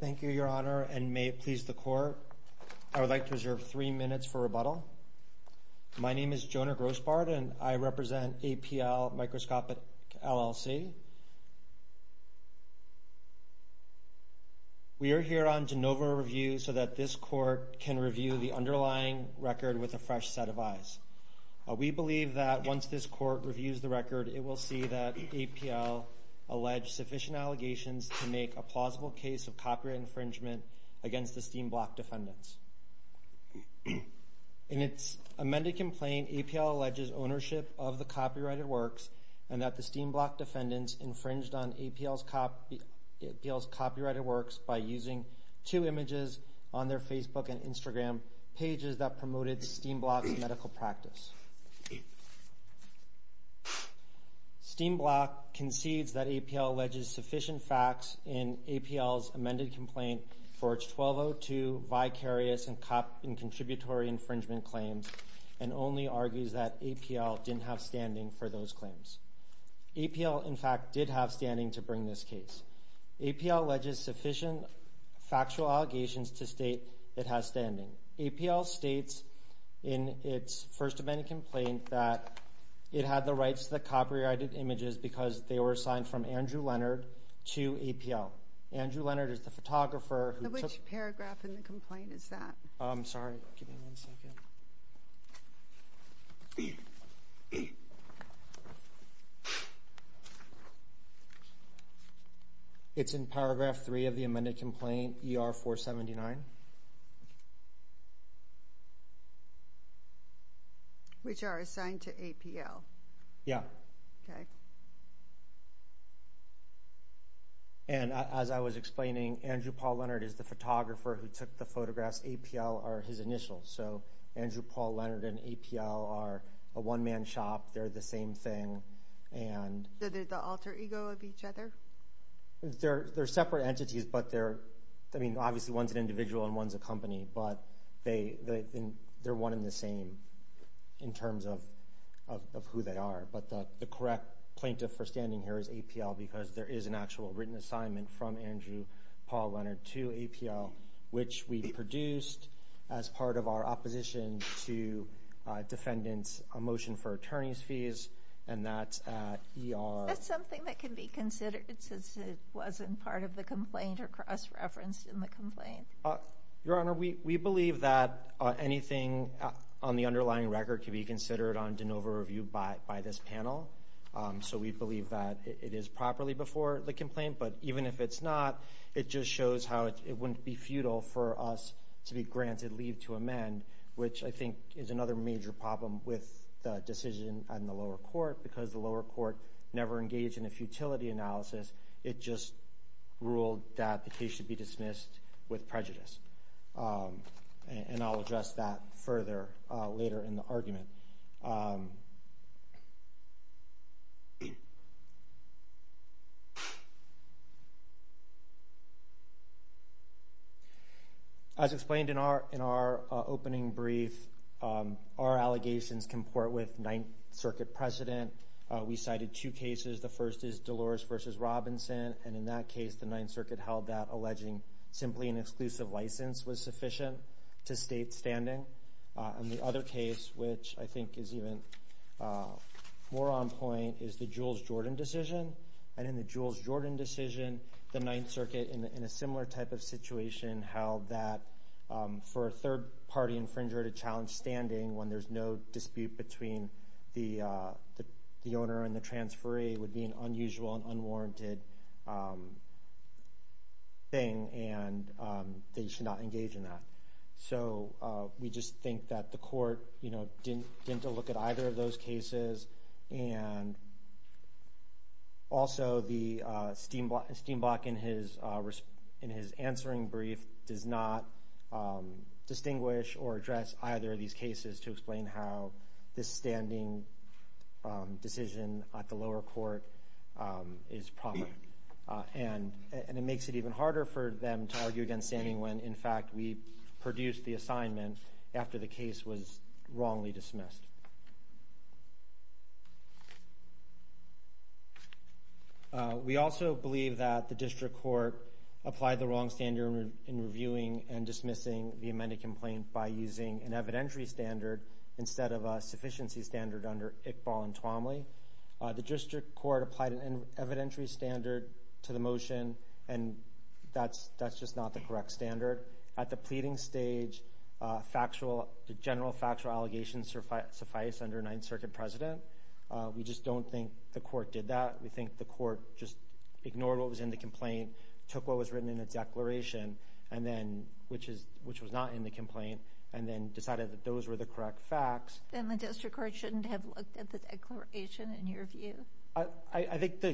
Thank you, Your Honor, and may it please the Court, I would like to reserve three minutes for rebuttal. My name is Jonah Grossbard and I represent APL Microscopic, LLC. We are here on de novo review so that this Court can review the underlying record with a fresh set of eyes. We believe that once this Court reviews the record, it will see that APL alleged sufficient allegations to make a plausible case of copyright infringement against the Steenblock defendants. In its amended complaint, APL alleges ownership of the copyrighted works and that the Steenblock defendants infringed on APL's copyrighted works by using two images on their Facebook and Instagram pages that promoted Steenblock's medical practice. Steenblock concedes that APL alleges sufficient facts in APL's amended complaint for its 1202 vicarious and cop and contributory infringement claims and only argues that APL didn't have standing for those claims. APL, in fact, did have standing to bring this case. APL alleges sufficient factual allegations to state it has standing. APL states in its first amended complaint that it had the rights to the copyrighted images because they were assigned from Andrew Leonard to APL. Andrew Leonard is the photographer who took- So which paragraph in the complaint is that? I'm sorry, give me one second. It's in paragraph three of the amended complaint, ER 479. Which are assigned to APL? Yeah. Okay. And as I was explaining, Andrew Paul Leonard is the photographer who took the photographs. APL are his initials, so Andrew Paul Leonard and APL are a one-man shop. They're the same thing and- So they're the alter ego of each other? They're separate entities, but they're- I mean, obviously one's an individual and one's a company, but they're one and the same in terms of who they are, but the correct plaintiff for standing here is APL because there is an actual written assignment from Andrew Paul Leonard to APL, which we produced as part of our opposition to defendants' motion for attorney's fees, and that's at ER- Is that something that can be considered since it wasn't part of the complaint or cross-referenced in the complaint? Your Honor, we believe that anything on the underlying record can be considered on de novo review by this panel, so we believe that it is properly before the complaint, but even if it's not, it just shows how it wouldn't be futile for us to be granted leave to amend, which I think is another major problem with the decision on the lower court because the court engaged in a futility analysis. It just ruled that the case should be dismissed with prejudice, and I'll address that further later in the argument. As explained in our opening brief, our allegations comport with Ninth Circuit precedent. We cited two cases. The first is Dolores v. Robinson, and in that case, the Ninth Circuit held that alleging simply an exclusive license was sufficient to state standing, and the other case, which I think is even more on point, is the Jules Jordan decision, and in the Jules Jordan decision, the Ninth Circuit, in a similar type of situation, held that for a third-party infringer to challenge standing when there's no dispute between the owner and the transferee would be an unusual and unwarranted thing, and they should not engage in that, so we just think that the court didn't look at either of those cases, and also, Steenblok, in his answering brief, does not distinguish or address either of these cases to explain how this standing decision at the lower court is proper, and it makes it even harder for them to argue against standing when, in fact, we produced the assignment after the case was wrongly dismissed. We also believe that the district court applied the wrong standard in reviewing and dismissing the amended complaint by using an evidentiary standard instead of a sufficiency standard under Iqbal and Twomley. The district court applied an evidentiary standard to the motion, and that's just not the correct standard. At the pleading stage, the general factual allegations suffice under a Ninth Circuit president. We just don't think the court did that. We think the court just ignored what was in the complaint, took what was written in the declaration, which was not in the complaint, and then decided that those were the correct facts. Then the district court shouldn't have looked at the declaration, in your view? I think the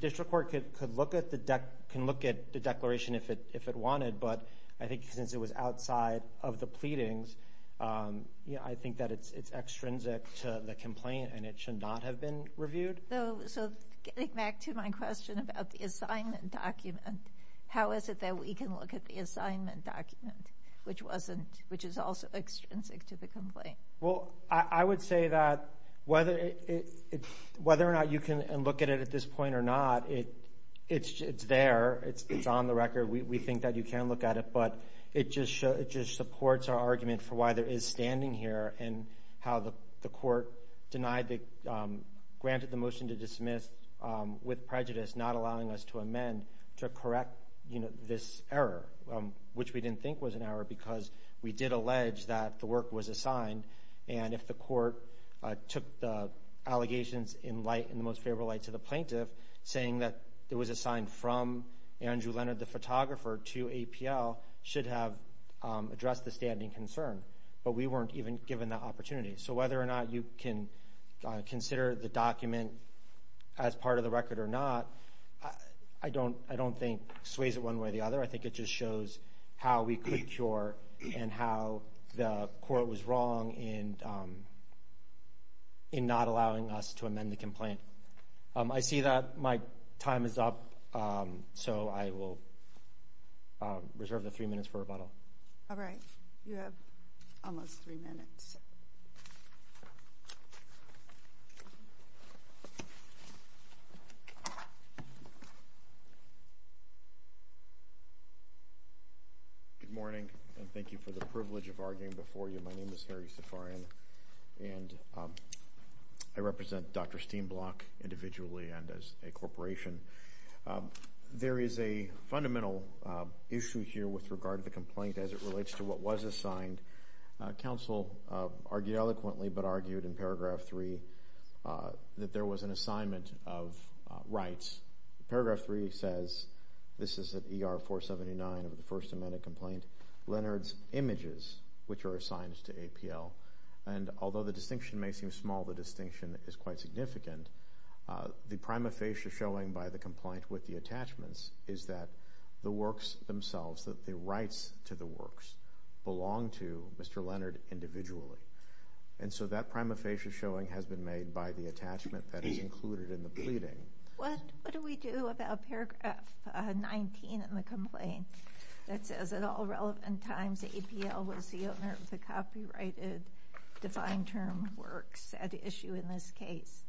district court can look at the declaration if it wanted, but I think since it was outside of the pleadings, I think that it's extrinsic to the complaint and it should not have been reviewed. So getting back to my question about the assignment document, how is it that we can look at the assignment document, which is also extrinsic to the complaint? Well, I would say that whether or not you can look at it at this point or not, it's there. It's on the record. We think that you can look at it, but it just supports our argument for why there is standing here and how the court granted the motion to dismiss with prejudice, not allowing us to amend to correct this error, which we didn't think was an error because we did allege that the work was assigned. And if the court took the allegations in the most favorable light to the plaintiff, saying that it was assigned from Andrew Leonard, the photographer, to APL, should have addressed the standing concern. But we weren't even given that opportunity. So whether or not you can consider the document as part of the record or not, I don't think it sways it one way or the other. I think it just shows how we could cure and how the court was wrong in not allowing us to amend the complaint. I see that my time is up, so I will reserve the three minutes for rebuttal. All right. You have almost three minutes. Good morning, and thank you for the privilege of arguing before you. My name is Harry Safarian, and I represent Dr. Steenblok individually and as a corporation. There is a fundamental issue here with regard to the complaint as it relates to what was assigned. Counsel argued eloquently but argued in paragraph three that there was an assignment of rights. Paragraph three says, this is at ER 479 of the First Amendment complaint, Leonard's images, which are assigned to APL. And although the distinction may seem small, the distinction is quite significant. The prima facie showing by the complaint with the attachments is that the works themselves, that the rights to the works belong to Mr. Leonard individually. And so that prima facie showing has been made by the attachment that is included in the pleading. What do we do about paragraph 19 in the complaint that says, at all relevant times, APL was the owner of the copyrighted defined term works at issue in this case?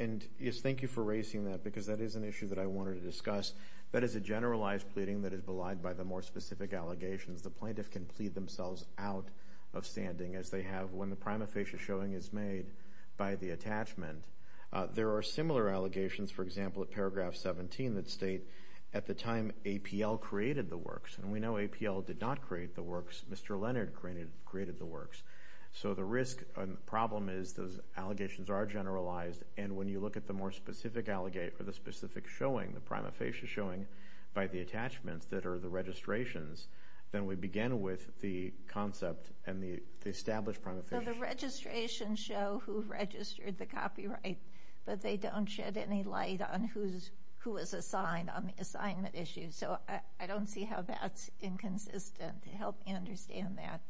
And yes, thank you for raising that, because that is an issue that I wanted to discuss. That is a generalized pleading that is belied by the more specific allegations. The plaintiff can plead themselves out of standing, as they have when the prima facie showing is made by the attachment. There are similar allegations, for example, at paragraph 17 that state, at the time APL created the works. And we know APL did not create the works. Mr. Leonard created the works. So the risk and the problem is those allegations are generalized. And when you look at the more specific allegate or the specific showing, the prima facie showing, by the attachments that are the registrations, then we begin with the concept and the established prima facie. So the registrations show who registered the copyright, but they don't shed any light on who is assigned on the assignment issue. So I don't see how that's inconsistent. Help me understand that.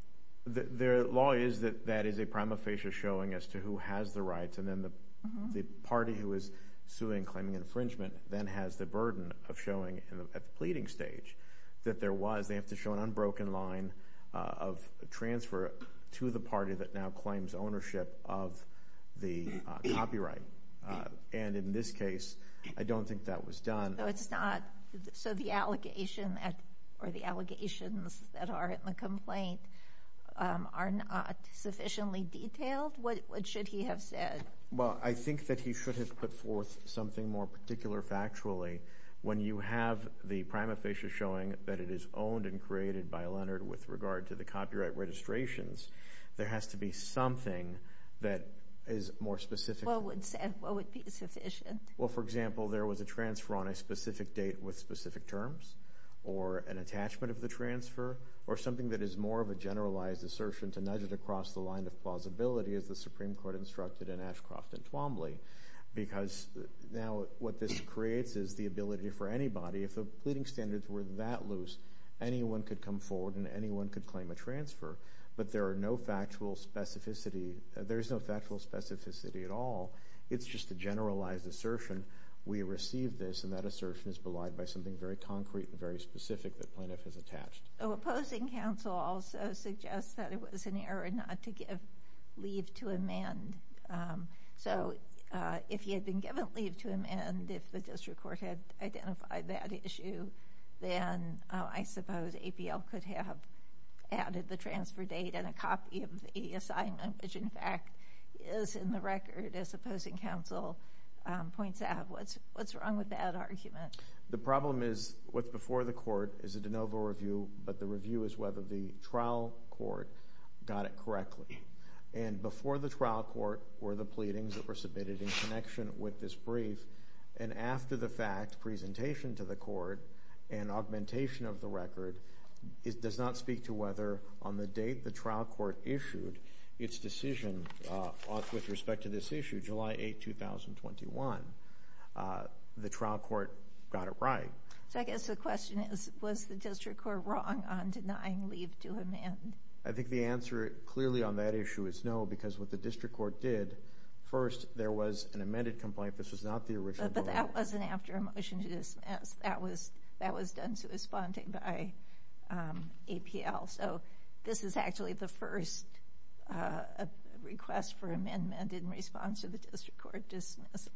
The law is that that is a prima facie showing as to who has the rights, and then the party who is suing, claiming infringement, then has the burden of showing at the pleading stage that there was. They have to show an unbroken line of transfer to the party that now claims ownership of the copyright. And in this case, I don't think that was done. So the allegations that are in the complaint are not sufficiently detailed? What should he have said? Well, I think that he should have put forth something more particular factually. When you have the prima facie showing that it is owned and created by Leonard with regard to the copyright registrations, there has to be something that is more specific. What would be sufficient? Well, for example, there was a transfer on a specific date with specific terms, or an attachment of the transfer, or something that is more of a generalized assertion to nudge it across the line of plausibility, as the Supreme Court instructed in Ashcroft and Twombly. Because now what this creates is the ability for anybody, if the pleading standards were that loose, anyone could come forward and anyone could claim a transfer. But there is no factual specificity at all. It's just a generalized assertion. We received this, and that assertion is belied by something very concrete and very specific that Plaintiff has attached. Opposing counsel also suggests that it was an error not to give leave to amend. So if he had been given leave to amend, if the district court had identified that issue, then I suppose APL could have added the transfer date and a copy of the assignment, which, in fact, is in the record, as opposing counsel points out. What's wrong with that argument? The problem is what's before the court is a de novo review, but the review is whether the trial court got it correctly. And before the trial court were the pleadings that were submitted in connection with this brief, and after the fact, presentation to the court and augmentation of the record, it does not speak to whether on the date the trial court issued its decision with respect to this issue, July 8, 2021, the trial court got it right. So I guess the question is, was the district court wrong on denying leave to amend? I think the answer clearly on that issue is no, because what the district court did, first, there was an amended complaint. This was not the original vote. But that wasn't after a motion to dismiss. That was done to responding by APL. So this is actually the first request for amendment in response to the district court dismiss.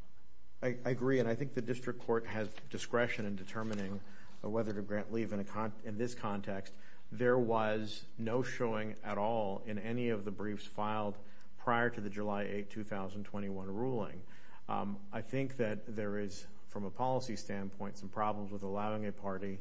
I agree. And I think the district court has discretion in determining whether to grant leave in this context. There was no showing at all in any of the briefs filed prior to the July 8, 2021, ruling. I think that there is, from a policy standpoint, some problems with allowing a party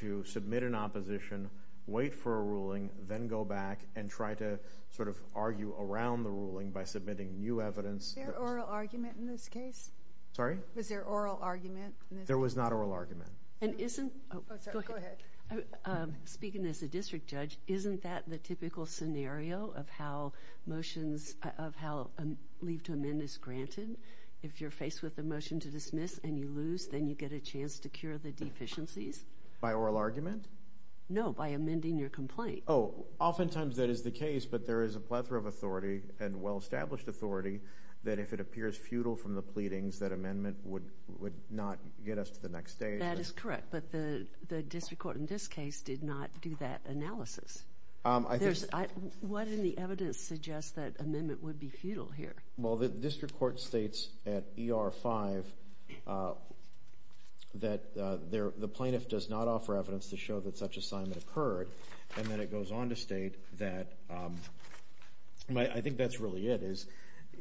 to submit an opposition, wait for a ruling, then go back and try to sort of argue around the ruling by submitting new evidence. Was there oral argument in this case? Sorry? Was there oral argument in this case? There was not oral argument. And isn't — Oh, sorry. Go ahead. Speaking as a district judge, isn't that the typical scenario of how motions — of how leave to amend is granted? If you're faced with a motion to dismiss and you lose, then you get a chance to cure the deficiencies? By oral argument? No, by amending your complaint. Oh, oftentimes that is the case, but there is a plethora of authority and well-established authority that if it appears futile from the pleadings, that amendment would not get us to the next stage. That is correct, but the district court in this case did not do that analysis. I think — What in the evidence suggests that amendment would be futile here? Well, the district court states at ER 5 that the plaintiff does not offer evidence to show that such assignment occurred, and then it goes on to state that — I think that's really it, is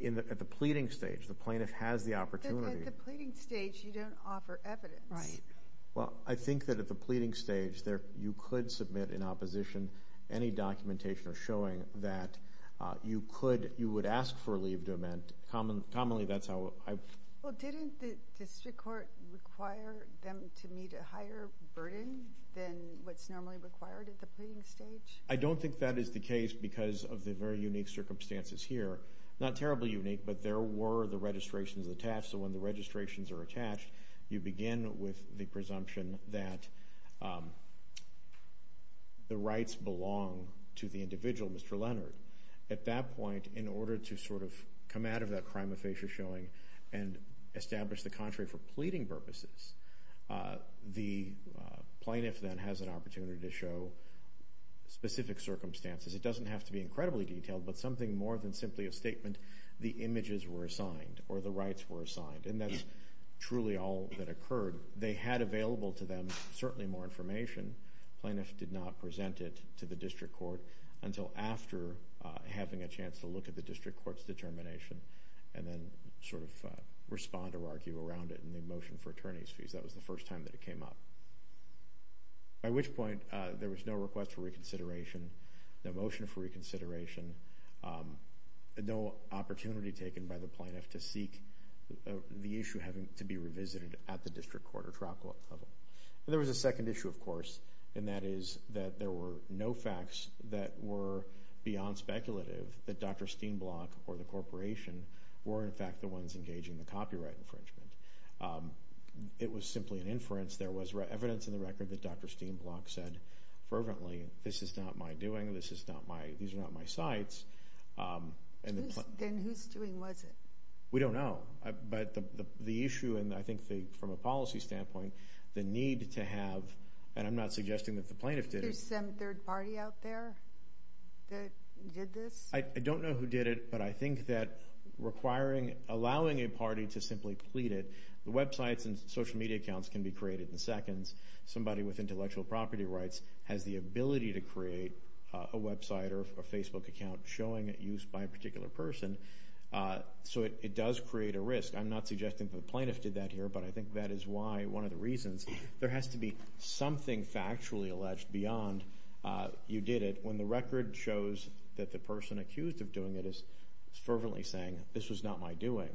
at the pleading stage, the plaintiff has the opportunity — Well, I think that at the pleading stage, you could submit in opposition any documentation or showing that you could — you would ask for a leave to amend. Commonly, that's how I — Well, didn't the district court require them to meet a higher burden than what's normally required at the pleading stage? I don't think that is the case because of the very unique circumstances here. Not terribly unique, but there were the registrations attached, so when the registrations are attached, you begin with the presumption that the rights belong to the individual, Mr. Leonard. At that point, in order to sort of come out of that prima facie showing and establish the contrary for pleading purposes, the plaintiff then has an opportunity to show specific circumstances. It doesn't have to be incredibly detailed, but something more than simply a statement, the images were assigned or the rights were assigned, and that's truly all that occurred. They had available to them certainly more information. The plaintiff did not present it to the district court until after having a chance to look at the district court's determination and then sort of respond or argue around it in the motion for attorneys' fees. That was the first time that it came up, by which point there was no request for reconsideration, no motion for reconsideration, no opportunity taken by the plaintiff to seek the issue having to be revisited at the district court or trial level. There was a second issue, of course, and that is that there were no facts that were beyond speculative that Dr. Steenblok or the corporation were, in fact, the ones engaging the copyright infringement. It was simply an inference. There was evidence in the record that Dr. Steenblok said fervently, this is not my doing, these are not my sites. Then whose doing was it? We don't know, but the issue, and I think from a policy standpoint, the need to have, and I'm not suggesting that the plaintiff did it. There's some third party out there that did this? I don't know who did it, but I think that requiring, allowing a party to simply plead it, the websites and social media accounts can be created in seconds. Somebody with intellectual property rights has the ability to create a website or a Facebook account showing it used by a particular person. So it does create a risk. I'm not suggesting that the plaintiff did that here, but I think that is why, one of the reasons, there has to be something factually alleged beyond you did it. When the record shows that the person accused of doing it is fervently saying, this was not my doing,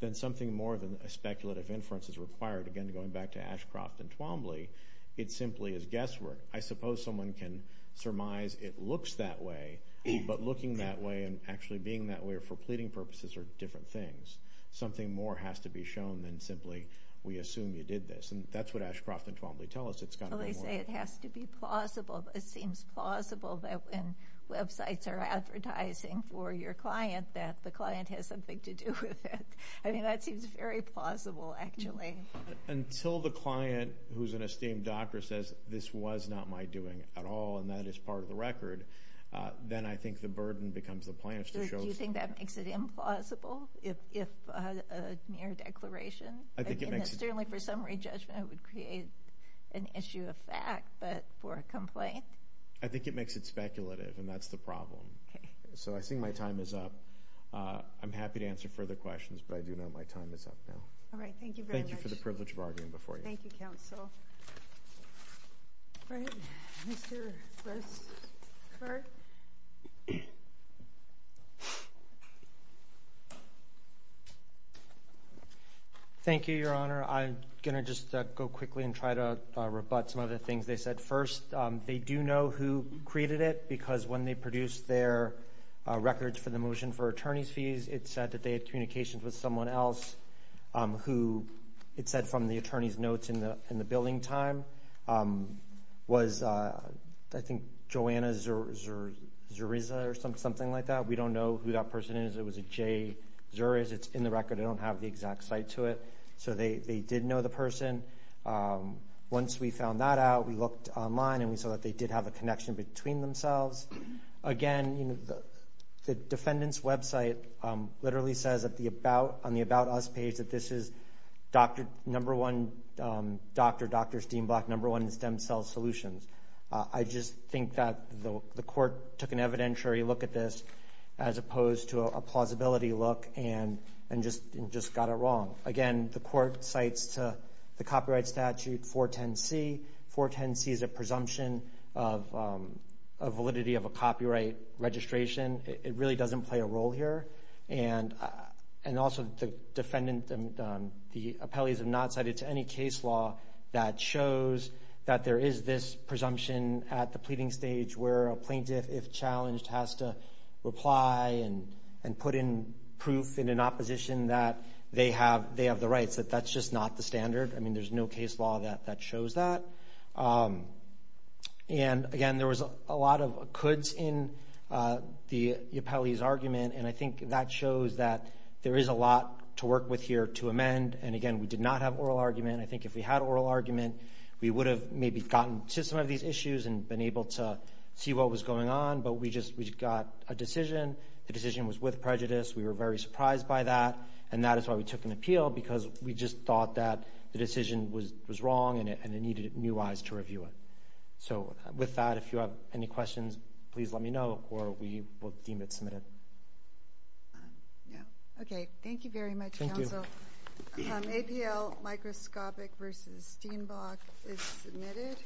then something more than a speculative inference is required. Again, going back to Ashcroft and Twombly, it simply is guesswork. I suppose someone can surmise it looks that way, but looking that way and actually being that way for pleading purposes are different things. Something more has to be shown than simply we assume you did this. That's what Ashcroft and Twombly tell us. They say it has to be plausible. It seems plausible that when websites are advertising for your client that the client has something to do with it. I mean, that seems very plausible, actually. Until the client, who's an esteemed doctor, says, this was not my doing at all and that is part of the record, then I think the burden becomes the plaintiff's to show. Do you think that makes it implausible if a mere declaration? I think it makes it. Certainly for summary judgment it would create an issue of fact, but for a complaint? I think it makes it speculative, and that's the problem. Okay. So I think my time is up. I'm happy to answer further questions, but I do know my time is up now. All right, thank you very much. Thank you for the privilege of arguing before you. Thank you, Counsel. All right, Mr. Westhart. Thank you, Your Honor. I'm going to just go quickly and try to rebut some of the things they said. First, they do know who created it because when they produced their records for the motion for attorney's fees, it said that they had communications with someone else who, it said from the attorney's notes in the billing time, was I think Joanna Zuriza or something like that. We don't know who that person is. It was a Jay Zuriz. It's in the record. I don't have the exact site to it. So they did know the person. Once we found that out, we looked online and we saw that they did have a connection between themselves. Again, the defendant's website literally says on the About Us page that this is number one doctor, Dr. Steenblatt, number one in stem cell solutions. I just think that the court took an evidentiary look at this as opposed to a plausibility look and just got it wrong. Again, the court cites to the copyright statute 410C. 410C is a presumption of validity of a copyright registration. It really doesn't play a role here. And also the defendant, the appellees have not cited to any case law that shows that there is this presumption at the pleading stage where a plaintiff, if challenged, has to reply and put in proof in an opposition that they have the rights, that that's just not the standard. I mean, there's no case law that shows that. And, again, there was a lot of coulds in the appellee's argument, and I think that shows that there is a lot to work with here to amend. And, again, we did not have oral argument. I think if we had oral argument, we would have maybe gotten to some of these issues and been able to see what was going on, but we just got a decision. The decision was with prejudice. We were very surprised by that, and that is why we took an appeal, because we just thought that the decision was wrong and it needed new eyes to review it. So with that, if you have any questions, please let me know, or we will deem it submitted. Okay, thank you very much, counsel. Thank you. APL Microscopic v. Steenbach is submitted.